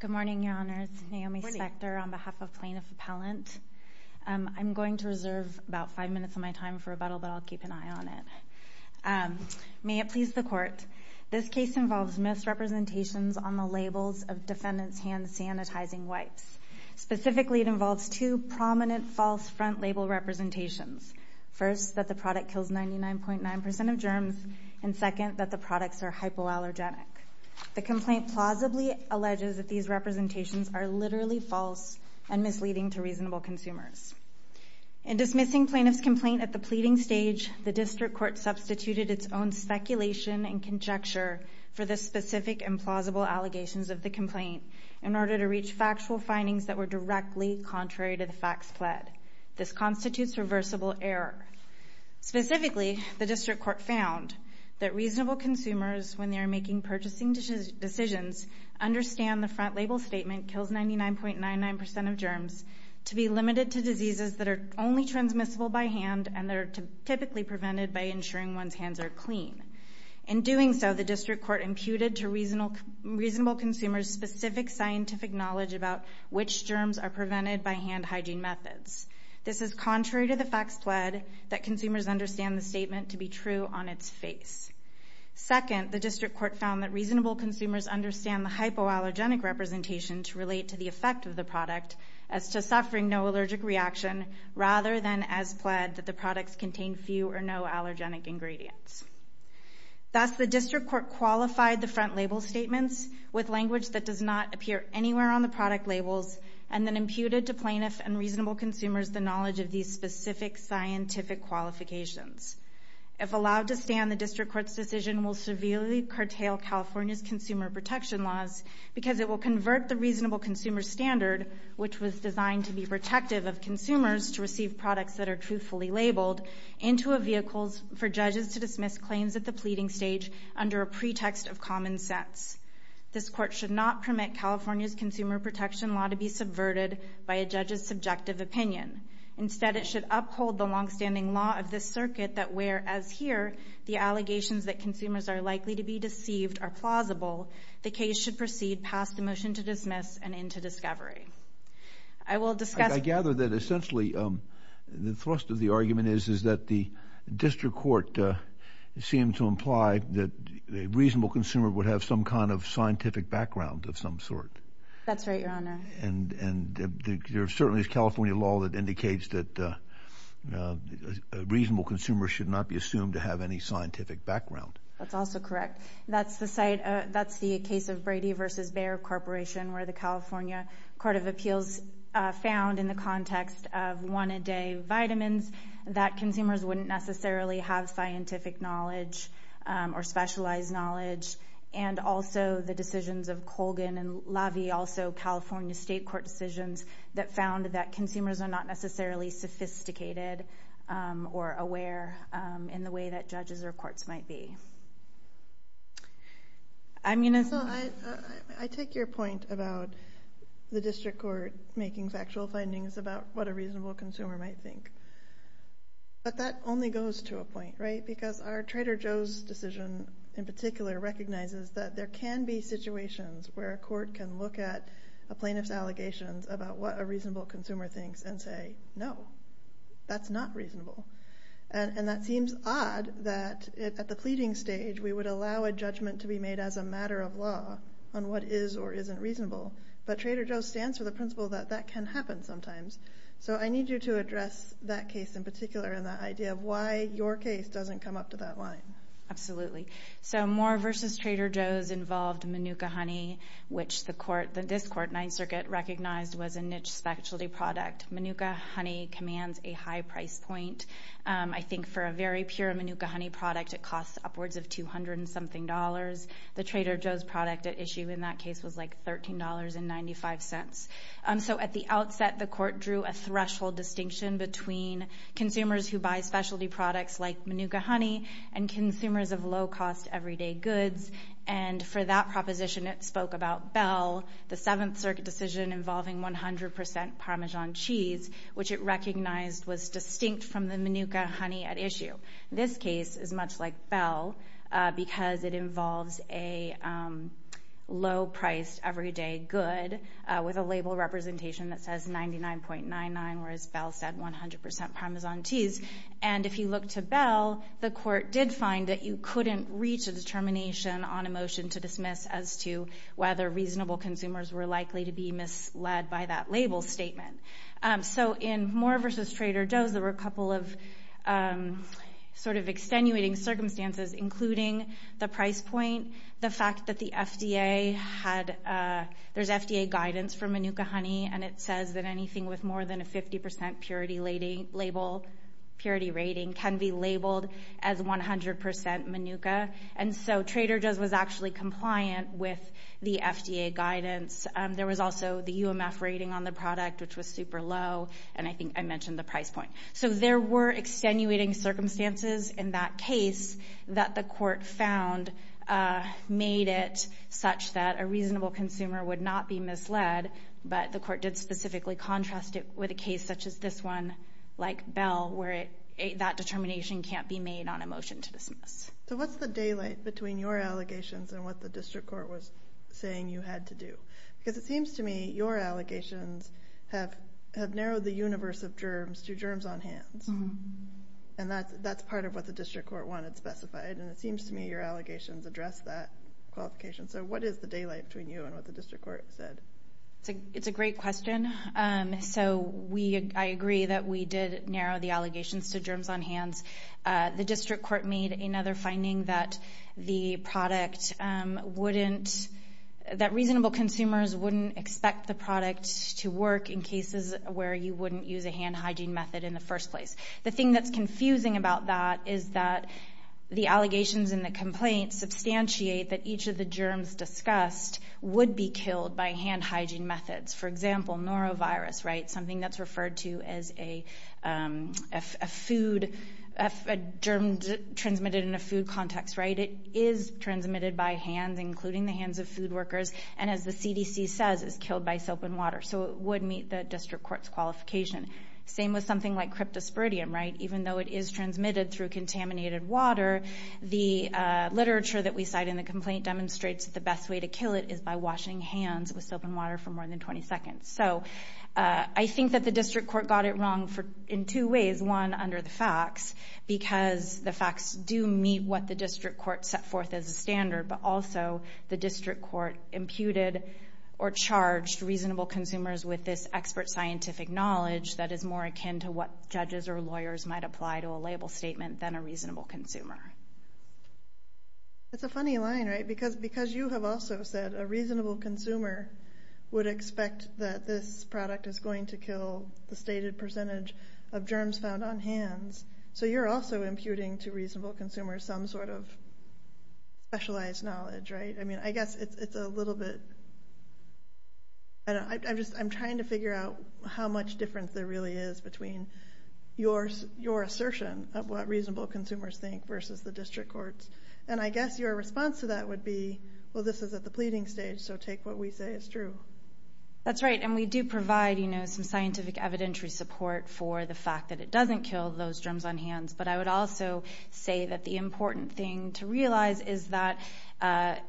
Good morning, Your Honors. Naomi Spector on behalf of Plaintiff Appellant. I'm going to reserve about five minutes of my time for rebuttal, but I'll keep an eye on it. May it please the Court, this case involves misrepresentations on the labels of defendants' hand sanitizing wipes. Specifically, it involves two prominent false front label representations. First, that the product kills 99.9% of germs, and second, that the products are hypoallergenic. The complaint plausibly alleges that these representations are literally false and misleading to reasonable consumers. In dismissing plaintiff's complaint at the pleading stage, the District Court substituted its own speculation and conjecture for the specific and plausible allegations of the complaint in order to reach factual findings that were directly contrary to the facts pled. This constitutes reversible error. Specifically, the District Court found that reasonable consumers, when they are making purchasing decisions, understand the front label statement, kills 99.99% of germs, to be limited to diseases that are only transmissible by hand and are typically prevented by ensuring one's hands are clean. In doing so, the District Court imputed to reasonable consumers specific scientific knowledge about which germs are used in hand hygiene methods. This is contrary to the facts pled that consumers understand the statement to be true on its face. Second, the District Court found that reasonable consumers understand the hypoallergenic representation to relate to the effect of the product as to suffering no allergic reaction, rather than as pled that the products contain few or no allergenic ingredients. Thus, the District Court qualified the front label statements with language that does not appear anywhere on the product labels and then imputed to plaintiff and reasonable consumers the knowledge of these specific scientific qualifications. If allowed to stand, the District Court's decision will severely curtail California's consumer protection laws because it will convert the reasonable consumer standard, which was designed to be protective of consumers to receive products that are truthfully labeled, into a vehicle for judges to dismiss claims at the pleading stage under a pretext of common sense. This Court should not permit California's consumer protection law to be subverted by a judge's subjective opinion. Instead, it should uphold the longstanding law of this circuit that where, as here, the allegations that consumers are likely to be deceived are plausible, the case should proceed past the motion to dismiss and into discovery. I will discuss... I gather that essentially the thrust of the argument is that the District Court seemed to imply that a reasonable consumer would have some kind of scientific background of some sort. That's right, Your Honor. And there certainly is California law that indicates that a reasonable consumer should not be assumed to have any scientific background. That's also correct. That's the case of Brady v. Bayer Corporation, where the California Court of Appeals found, in the context of one-a-day vitamins, that consumers wouldn't necessarily have scientific knowledge or specialized knowledge. And also the decisions of Colgan and LaVie, also California State Court decisions, that found that consumers are not necessarily sophisticated or aware in the way that judges or courts might be. I take your point about the District Court making factual findings about what a reasonable consumer might think. But that only goes to a point, right? Because our Trader Joe's decision in particular recognizes that there can be situations where a court can look at a plaintiff's allegations about what a reasonable consumer thinks and say, no, that's not reasonable. And that seems odd that, at the pleading stage, we would allow a judgment to be made as a matter of law on what is or isn't reasonable. But Trader Joe's stands for the principle that that can happen sometimes. So I need you to address that case in particular and the idea of why your case doesn't come up to that line. Absolutely. So Moore v. Trader Joe's involved Manuka honey, which the court, the District Court, Ninth Circuit recognized was a niche specialty product. Manuka honey commands a high price point. I think for a very pure Manuka honey product, it costs upwards of $200 and something dollars. The Trader Joe's product at issue in that case was like $13.95. So at the outset, the court drew a threshold distinction between consumers who buy specialty products like Manuka honey and consumers of low-cost everyday goods. And for that proposition, it spoke about Bell, the Seventh Circuit decision involving 100% Parmesan cheese, which it recognized was distinct from the Manuka honey at issue. This case is much like Bell because it involves a low-priced everyday good with a label representation that says $99.99, whereas Bell said 100% Parmesan cheese. And if you look to Bell, the court did find that you couldn't reach a determination on a motion to dismiss as to whether reasonable consumers were likely to be misled by that label statement. So in Moore v. Trader Joe's, there were a couple of sort of extenuating circumstances, including the price point, the fact that the FDA had, there's FDA guidance for Manuka honey, and it says that anything with more than a 50% purity rating can be labeled as 100% Manuka. And so Trader Joe's was actually compliant with the FDA guidance. There was also the UMF rating on the product, which was super low, and I think I mentioned the price point. So there were extenuating circumstances in that case that the court found made it such that a reasonable consumer would not be misled, but the court did specifically contrast it with a case such as this one, like Bell, where that determination can't be made on a motion to dismiss. So what's the daylight between your allegations and what the district court was saying you had to do? Because it seems to me your allegations have narrowed the universe of germs to germs on hands. And that's part of what the district court wanted specified, and it seems to me your allegations address that qualification. So what is the daylight between you and what the district court said? It's a great question. So we, I agree that we did narrow the allegations to germs on hands. The district court made another finding that the product wouldn't, that reasonable consumers wouldn't expect the product to work in cases where you wouldn't use a hand hygiene method in the first place. The thing that's confusing about that is that the allegations and the complaints substantiate that each of the germs discussed would be killed by hand hygiene methods. For example, norovirus, right, something that's referred to as a food, a germ transmitted in a food context, right, it is transmitted by hand, including the hands of food workers, and as the CDC says, is killed by soap and water. So it would meet the district court's qualification. Same with something like cryptosporidium, right, even though it is transmitted through contaminated water, the literature that we cite in the complaint demonstrates that the best way to kill it is by washing hands with soap and water for more than 20 seconds. So I think that the district court got it wrong in two ways. One, under the facts, because the facts do meet what the district court set forth as a standard, but also the district court imputed or charged reasonable consumers with this expert scientific knowledge that is more akin to what judges or lawyers might apply to a label statement than a reasonable consumer. That's a funny line, right, because you have also said a reasonable consumer would expect that this product is going to kill the stated percentage of germs found on hands. So you're also imputing to reasonable consumers some sort of specialized knowledge, right? I mean, I guess it's a little bit, I don't know, I'm just, I'm trying to figure out how much difference there really is between your assertion of what reasonable consumers think versus the district court's. And I guess your response to that would be, well, this is at the pleading stage, so take what we say is true. That's right, and we do provide, you know, some scientific evidentiary support for the And I would also say that the important thing to realize is that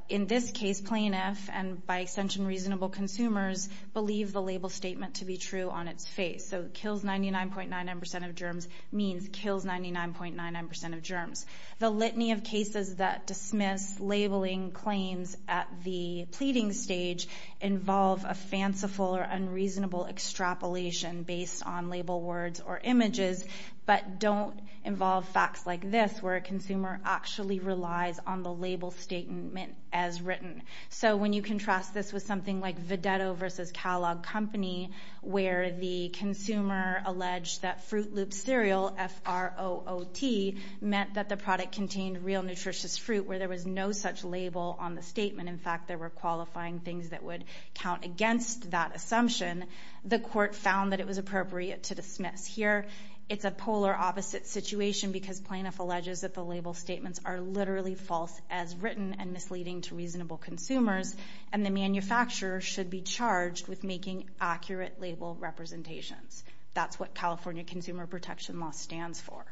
in this case, plain if, and by extension reasonable consumers, believe the label statement to be true on its face. So kills 99.99% of germs means kills 99.99% of germs. The litany of cases that dismiss labeling claims at the pleading stage involve a fanciful or unreasonable extrapolation based on label words or images, but don't involve facts like this, where a consumer actually relies on the label statement as written. So when you contrast this with something like Vedetto versus Kellogg Company, where the consumer alleged that Fruit Loop Cereal, F-R-O-O-T, meant that the product contained real nutritious fruit, where there was no such label on the statement. In fact, there were qualifying things that would count against that assumption. The court found that it was appropriate to dismiss. Here, it's a polar opposite situation because plaintiff alleges that the label statements are literally false as written and misleading to reasonable consumers, and the manufacturer should be charged with making accurate label representations. That's what California Consumer Protection Law stands for.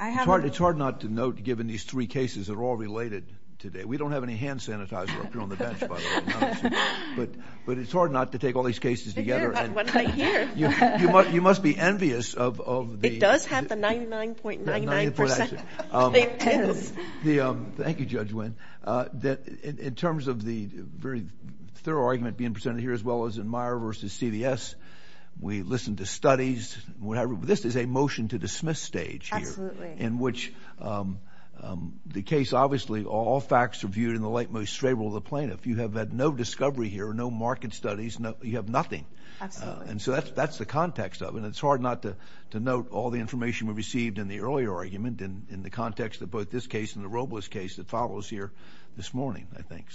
It's hard not to note, given these three cases that are all related today, we don't have any hand sanitizer up here on the bench, by the way. But it's hard not to take all these cases together. You must be envious of the... It does have the 99.99 percent. Thank you, Judge Nguyen. In terms of the very thorough argument being presented here, as well as in Meyer versus CDS, we listened to studies. This is a motion to dismiss stage here, in which the case, obviously, all facts are viewed in the light most favorable of the plaintiff. You have had no discovery here, no market studies. You have nothing. And so that's the context of it. And it's hard not to note all the information we received in the earlier argument in the context of both this case and the Robles case that follows here this morning, I think.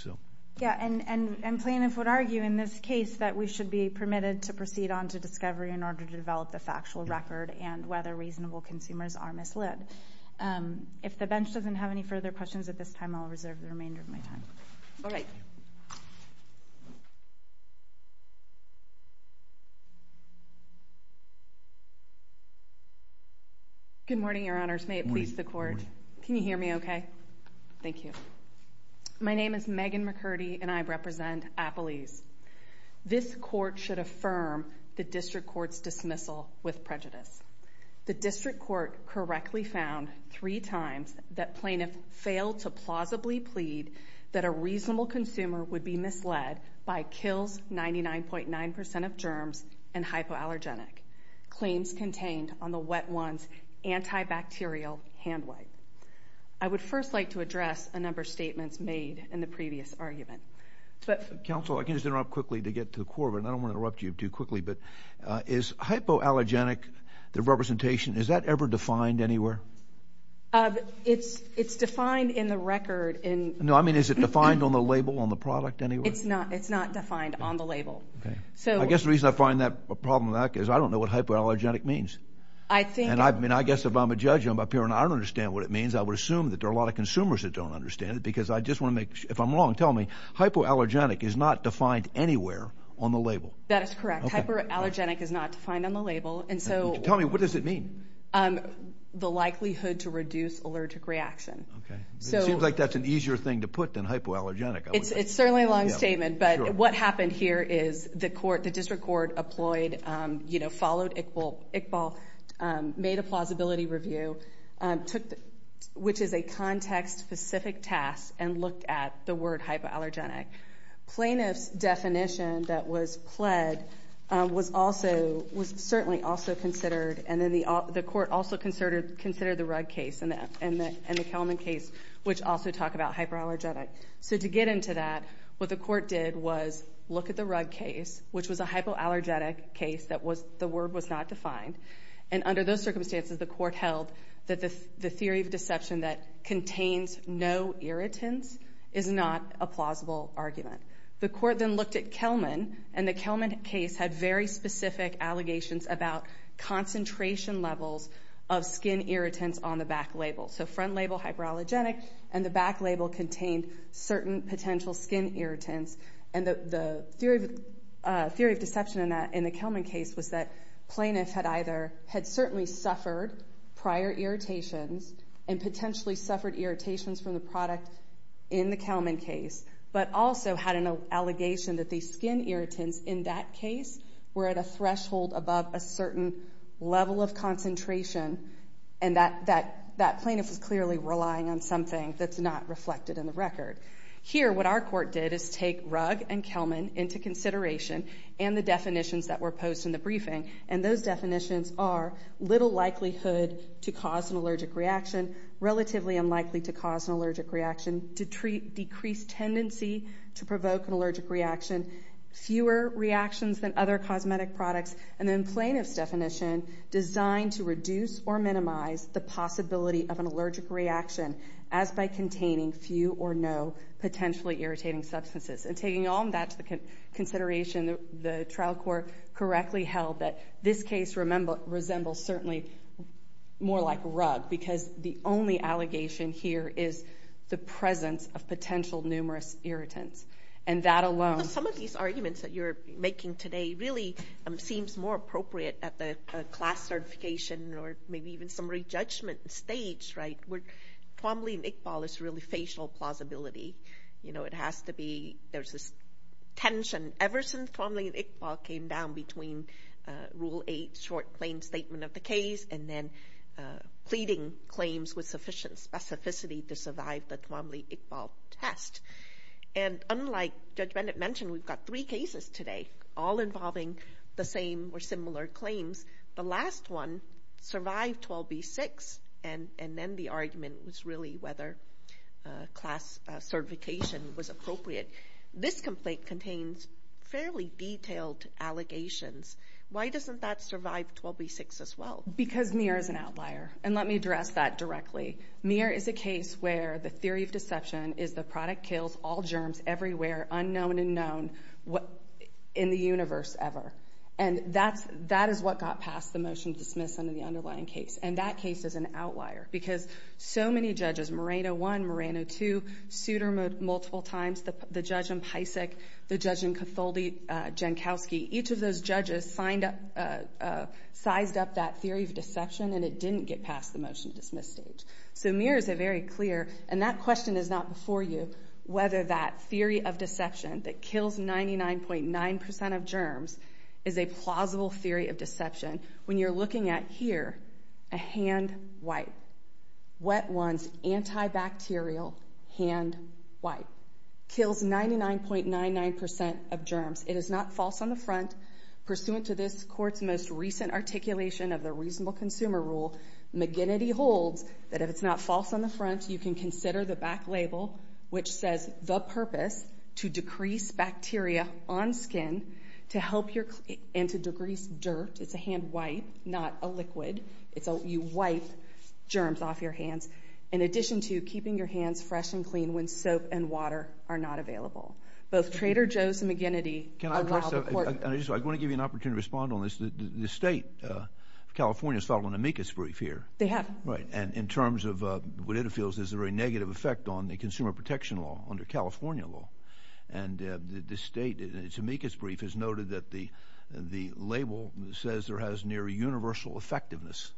Yeah, and plaintiffs would argue in this case that we should be permitted to proceed on to discovery in order to develop the factual record and whether reasonable consumers are misled. If the bench doesn't have any further questions at this time, I'll reserve the remainder of my time. All right. Good morning, Your Honors. May it please the court. Can you hear me okay? Thank you. My case court should affirm the district court's dismissal with prejudice. The district court correctly found three times that plaintiff failed to plausibly plead that a reasonable consumer would be misled by KILS 99.9% of germs and hypoallergenic claims contained on the wet ones antibacterial hand wipe. I would first like to address a number of statements made in the previous argument. Counsel, I can just interrupt quickly to get to the core of it. I don't want to interrupt you too quickly, but is hypoallergenic, the representation, is that ever defined anywhere? It's defined in the record. No, I mean, is it defined on the label on the product anywhere? It's not. It's not defined on the label. Okay. I guess the reason I find that a problem in that case is I don't know what hypoallergenic means. I think... And I mean, I guess if I'm a judge up here and I don't understand what it means, I would assume that there are a lot of consumers that don't understand it because I just want to If I'm wrong, tell me, hypoallergenic is not defined anywhere on the label. That is correct. Hypoallergenic is not defined on the label. And so... Tell me, what does it mean? The likelihood to reduce allergic reaction. Okay. It seems like that's an easier thing to put than hypoallergenic. It's certainly a long statement, but what happened here is the court, the district court applied, followed Iqbal, made a plausibility review, which is a context-specific task and looked at the word hypoallergenic. Plaintiff's definition that was pled was also, was certainly also considered, and then the court also considered the Rudd case and the Kelman case, which also talk about hypoallergenic. So to get into that, what the court did was look at the Rudd case, which was a hypoallergenic case that was, the word was not defined. And under those is not a plausible argument. The court then looked at Kelman and the Kelman case had very specific allegations about concentration levels of skin irritants on the back label. So front label, hypoallergenic, and the back label contained certain potential skin irritants. And the theory of deception in the Kelman case was that plaintiff had either, had certainly suffered prior irritations and potentially suffered irritations from the product in the Kelman case, but also had an allegation that these skin irritants in that case were at a threshold above a certain level of concentration. And that plaintiff was clearly relying on something that's not reflected in the record. Here, what our court did is take Rudd and Kelman into consideration and the definitions that were posed in the briefing. And those were likelihood to cause an allergic reaction, relatively unlikely to cause an allergic reaction, to decrease tendency to provoke an allergic reaction, fewer reactions than other cosmetic products, and then plaintiff's definition, designed to reduce or minimize the possibility of an allergic reaction as by containing few or no potentially irritating substances. And taking all that to consideration, the trial court correctly held that this case certainly more like Rudd, because the only allegation here is the presence of potential numerous irritants. And that alone... Some of these arguments that you're making today really seems more appropriate at the class certification or maybe even some re-judgment stage, right, where Twombly and Iqbal is really facial plausibility. You know, it has to be, there's this tension. Ever since Twombly and Iqbal, the court claimed statement of the case and then pleading claims with sufficient specificity to survive the Twombly-Iqbal test. And unlike Judge Bennett mentioned, we've got three cases today, all involving the same or similar claims. The last one survived 12B6 and then the argument was really whether class certification was appropriate. This complaint contains fairly detailed allegations. Why doesn't that survive 12B6 as well? Because Mir is an outlier. And let me address that directly. Mir is a case where the theory of deception is the product kills all germs everywhere, unknown and known, in the universe ever. And that is what got passed the motion to dismiss under the underlying case. And that case is an outlier, because so many judges, Moreno 1, Moreno 2, Souter multiple times, the judge in Pysik, the judge in Cotholdi, Jankowski, each of those judges sized up that theory of deception and it didn't get passed the motion to dismiss stage. So Mir is a very clear, and that question is not before you, whether that theory of deception that kills 99.9% of germs is a plausible theory of deception. When you're looking at here, a hand wipe. Wet ones, antibacterial hand wipe. Kills 99.99% of germs. It is not false on the front. Pursuant to this court's most recent articulation of the reasonable consumer rule, McGinnity holds that if it's not false on the front, you can consider the back label, which says the purpose to decrease bacteria on skin and to degrease dirt. It's a hand wipe, not a liquid. You can't get germs off your hands. In addition to keeping your hands fresh and clean when soap and water are not available. Both Trader Joe's and McGinnity allow the court to- Can I address that? I just want to give you an opportunity to respond on this. The state of California has filed an amicus brief here. They have. Right. And in terms of what it feels is a very negative effect on the consumer protection law under California law. And the state, in its amicus brief, has noted that the label says there has near universal effectiveness.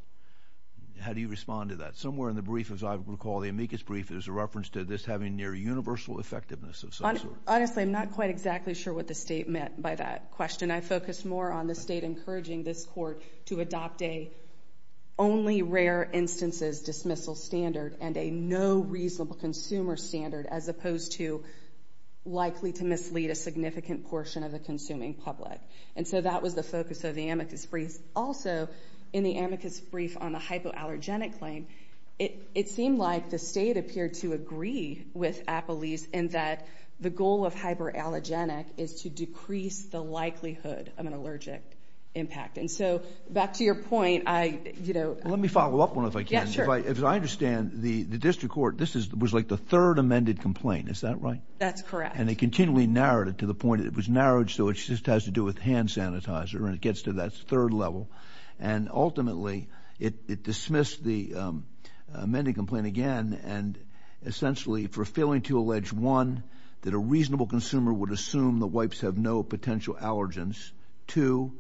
How do you respond to that? Somewhere in the brief, as I recall, the amicus brief, there's a reference to this having near universal effectiveness of some sort. Honestly, I'm not quite exactly sure what the state meant by that question. I focused more on the state encouraging this court to adopt a only rare instances dismissal standard and a no reasonable consumer standard as opposed to likely to mislead a significant portion of the consuming public. And so that was the focus of the amicus brief. Also, in the amicus brief on the hypoallergenic claim, it seemed like the state appeared to agree with Apolyse in that the goal of hypoallergenic is to decrease the likelihood of an allergic impact. And so back to your point, I- Let me follow up on it, if I can. Yeah, sure. As I understand, the district court, this was like the third amended complaint. Is that right? That's correct. And they continually narrowed it to the point that it was narrowed so it just has to do with hand sanitizer and it gets to that third level. And ultimately, it dismissed the amended complaint again and essentially for failing to allege, one, that a reasonable consumer would assume the wipes have no potential allergens, two,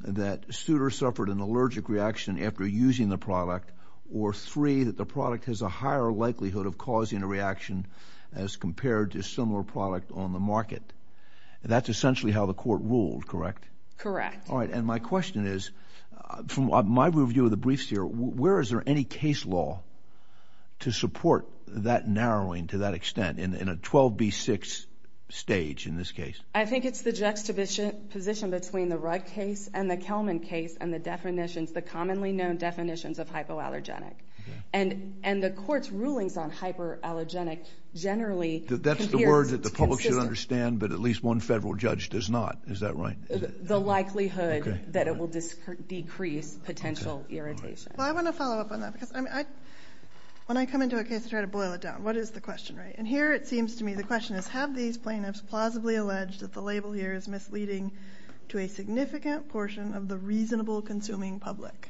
that Suter suffered an allergic reaction after using the product, or three, that the product has a higher likelihood of causing a reaction as compared to a similar product on the market. That's essentially how the court ruled, correct? Correct. All right. And my question is, from my review of the briefs here, where is there any case law to support that narrowing to that extent in a 12B6 stage in this case? I think it's the juxtaposition between the Rudd case and the Kelman case and the definitions, the commonly known definitions of hypoallergenic. And the court's rulings on hypoallergenic generally... That's the word that the public should understand, but at least one federal judge does not. Is that right? The likelihood that it will decrease potential irritation. Well, I want to follow up on that. When I come into a case, I try to boil it down. What is the question, right? And here, it seems to me, the question is, have these plaintiffs plausibly alleged that the label here is misleading to a significant portion of the reasonable consuming public?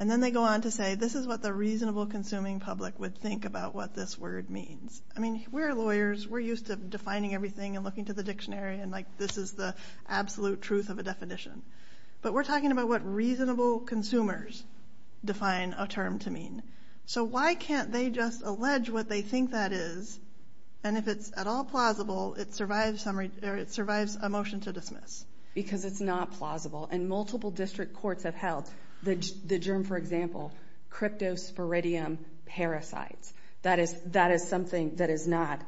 And then they go on to say, this is what the reasonable consuming public would think about what this word means. I mean, we're lawyers. We're used to defining everything and looking to the dictionary and like, this is the absolute truth of a definition. But we're talking about what reasonable consumers define a term to mean. So why can't they just allege what they think that is? And if it's at all plausible, it survives a motion to dismiss. Because it's not plausible. And multiple district courts have held the germ, for example, cryptosporidium parasites. That is something that is not...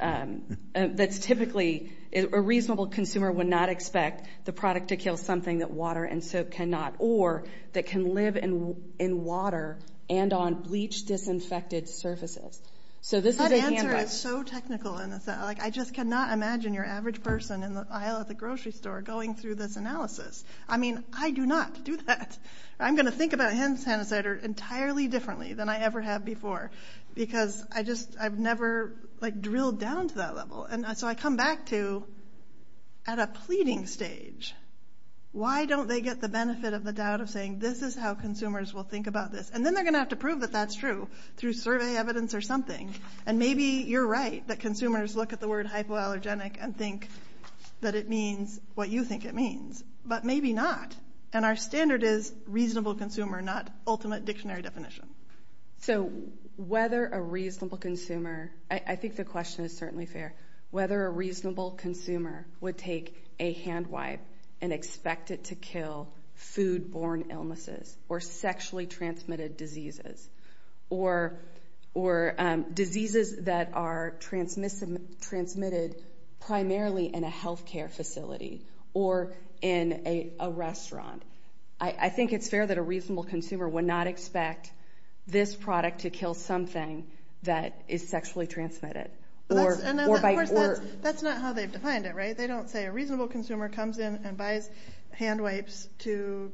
That's typically... A reasonable consumer would not expect the product to kill something that water and soap cannot, or that can live in water and on bleach disinfected surfaces. So this is a handbook. That answer is so technical. I just cannot imagine your average person in the aisle at a grocery store going through this analysis. I mean, I do not do that. I'm going to think about hand sanitizer entirely differently than I ever have before. Because I've never like drilled down to that level. And so I come back to, at a pleading stage, why don't they get the benefit of the doubt of saying, this is how consumers will think about this. And then they're going to have to prove that that's true through survey evidence or something. And maybe you're right that consumers look at the word hypoallergenic and think that it means what you think it means. But maybe not. And our standard is reasonable consumer, not ultimate dictionary definition. So whether a reasonable consumer... I think the question is certainly fair. Whether a reasonable consumer would take a hand wipe and expect it to kill food-borne illnesses or sexually transmitted diseases or diseases that are transmitted primarily in a health care facility or in a restaurant. I think it's fair that a reasonable consumer would not expect this product to kill something that is sexually transmitted. Of course, that's not how they've defined it, right? They don't say a reasonable consumer comes in and buys hand wipes to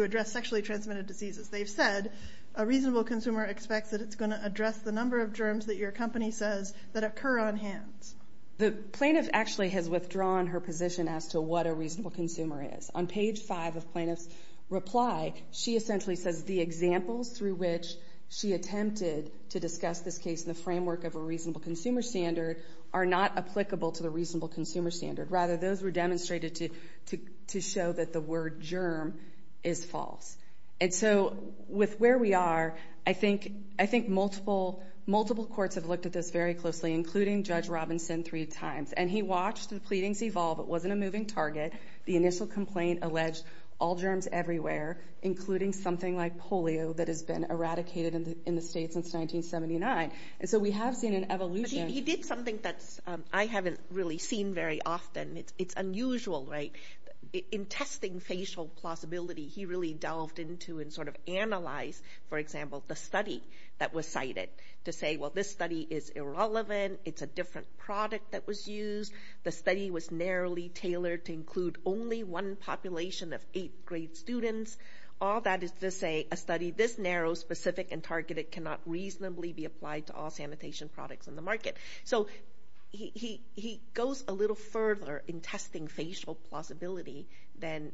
address sexually transmitted diseases. They've said a reasonable consumer expects that it's going to address the number of germs that your company says that occur on hands. The plaintiff actually has withdrawn her position as to what a reasonable consumer is. On page five of plaintiff's reply, she essentially says the examples through which she attempted to discuss this case in the framework of a reasonable consumer standard are not applicable to the reasonable consumer standard. Rather, those were demonstrated to show that the word germ is false. And so with where we are, I think multiple courts have looked at this very closely, including Judge Robinson three times. And he watched the pleadings evolve. It wasn't a moving target. The initial complaint alleged all germs everywhere, including something like polio that has been eradicated in the state since 1979. And so we have seen an evolution... I haven't really seen very often. It's unusual, right? In testing facial plausibility, he really delved into and sort of analyzed, for example, the study that was cited to say, well, this study is irrelevant. It's a different product that was used. The study was narrowly tailored to include only one population of eighth grade students. All that is to say a study this narrow, specific, and targeted cannot reasonably be applied to all sanitation products on the market. So he goes a little further in testing facial plausibility than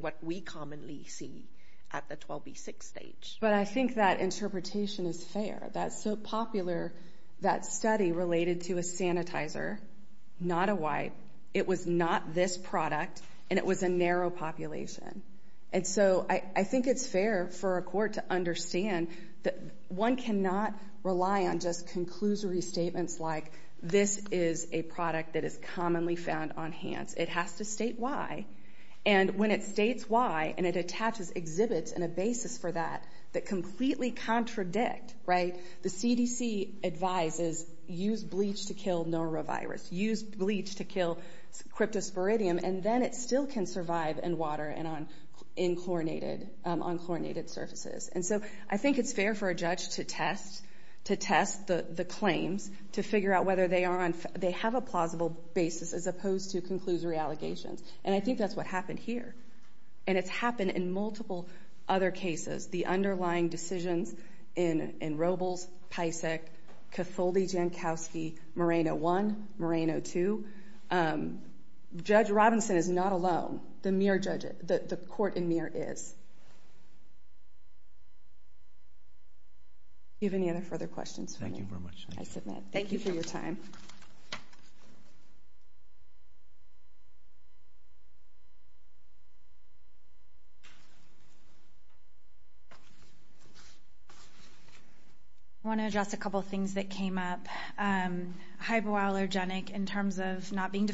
what we commonly see at the 12B6 stage. But I think that interpretation is fair. That's so popular, that study related to a sanitizer, not a wipe. It was not this product, and it was a narrow population. And so I think it's fair for a court to understand that one cannot rely on just conclusory statements like, this is a product that is commonly found on hands. It has to state why. And when it states why, and it attaches exhibits and a basis for that, that completely contradict, right? The CDC advises use bleach to kill norovirus, use bleach to kill cryptosporidium, and then it And so I think it's fair for a judge to test, to test the claims, to figure out whether they are on, they have a plausible basis as opposed to conclusory allegations. And I think that's what happened here. And it's happened in multiple other cases. The underlying decisions in Robles, Pisac, Catholdi-Jankowski, Moreno 1, Moreno 2. Judge Robinson is not alone. The Muir judge, the court in Muir is. Do you have any other further questions? Thank you very much. I submit. Thank you for your time. I want to address a couple of things that came up. Hypoallergenic in terms of not being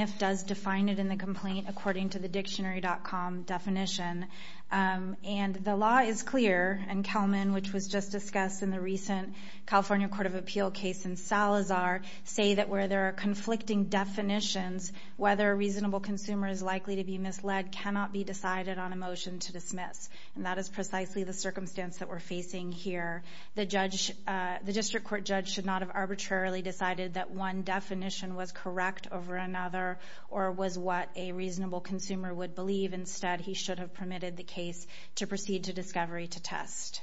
if does define it in the complaint according to the dictionary.com definition. And the law is clear. And Kelman, which was just discussed in the recent California Court of Appeal case in Salazar, say that where there are conflicting definitions, whether a reasonable consumer is likely to be misled cannot be decided on a motion to dismiss. And that is precisely the circumstance that we're facing here. The judge, the district court judge should not have arbitrarily decided that one definition was correct over another or was what a reasonable consumer would believe. Instead, he should have permitted the case to proceed to discovery to test.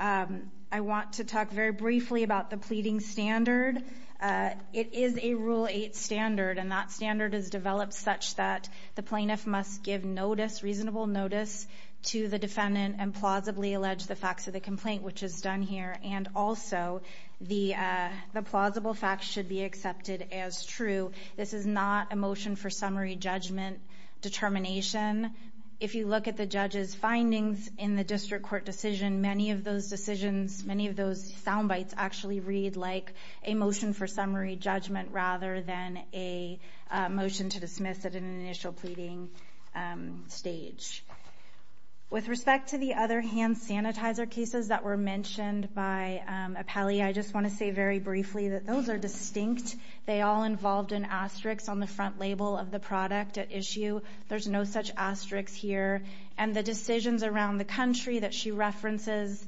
I want to talk very briefly about the pleading standard. It is a Rule 8 standard. And that standard is developed such that the plaintiff must give notice, reasonable notice, to the defendant and plausibly allege the facts of the complaint, which is done here. And also, the plausible facts should be accepted as true. This is not a motion for summary judgment determination. If you look at the judge's findings in the district court decision, many of those decisions, many of those sound bites actually read like a motion for summary judgment rather than a motion to dismiss at an initial pleading stage. With respect to the other hand sanitizer cases that were mentioned by Apelli, I just want to say very briefly that those are distinct. They all involved an asterisk on the front label of the product at issue. There's no such asterisk here. And the decisions around the country that she references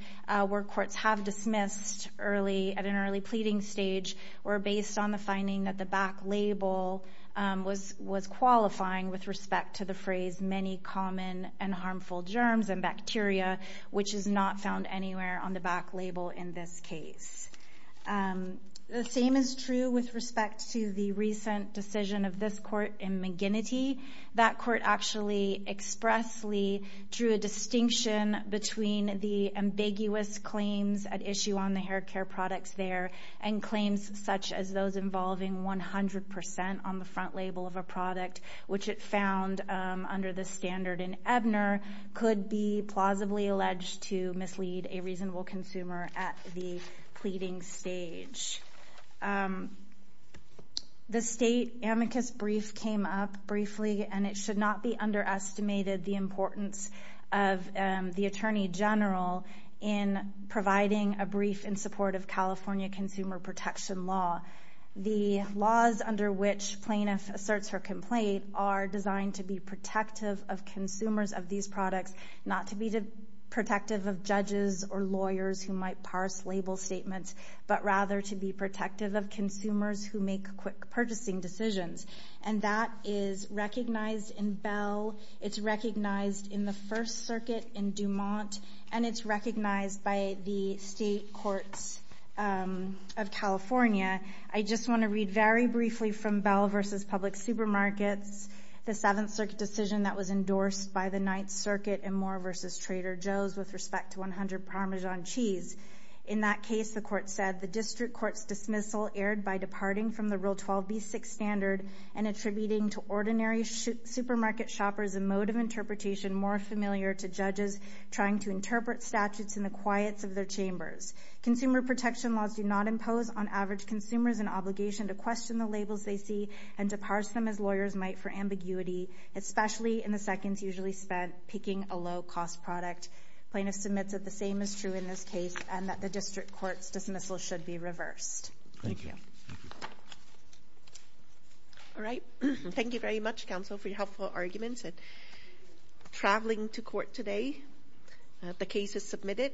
where courts have dismissed early at an early pleading stage were based on the finding that the back label was qualifying with respect to the phrase many common and which is not found anywhere on the back label in this case. The same is true with respect to the recent decision of this court in McGinnity. That court actually expressly drew a distinction between the ambiguous claims at issue on the hair care products there and claims such as those involving 100% on the front label of a product, which it found under the standard in Ebner could be plausibly alleged to mislead a reasonable consumer at the pleading stage. The state amicus brief came up briefly and it should not be underestimated the importance of the Attorney General in providing a brief in support of California consumer protection law. The laws under which plaintiff asserts her complaint are designed to be protective of consumers of these products, not to be protective of judges or lawyers who might parse label statements, but rather to be protective of consumers who make quick purchasing decisions. And that is recognized in Bell. It's recognized in the First Circuit in Dumont. And it's recognized by the state courts of California. I just want to read very briefly from Bell v. Public Supermarkets, the Seventh Circuit decision that was endorsed by the Ninth Circuit in Moore v. Trader Joe's with respect to 100 Parmesan cheese. In that case, the court said, the district court's dismissal erred by departing from the Rule 12b6 standard and attributing to ordinary supermarket shoppers a mode of interpretation more familiar to judges trying to interpret statutes in the quiets of their chambers. Consumer protection laws do not impose on average consumers an obligation to question the labels they see and to parse them as lawyers might for ambiguity, especially in the seconds usually spent picking a low-cost product. Plaintiff submits that the same is true in this case and that the district court's dismissal should be reversed. Thank you. All right. Thank you very much, counsel, for your helpful arguments. And traveling to court today, the case is submitted.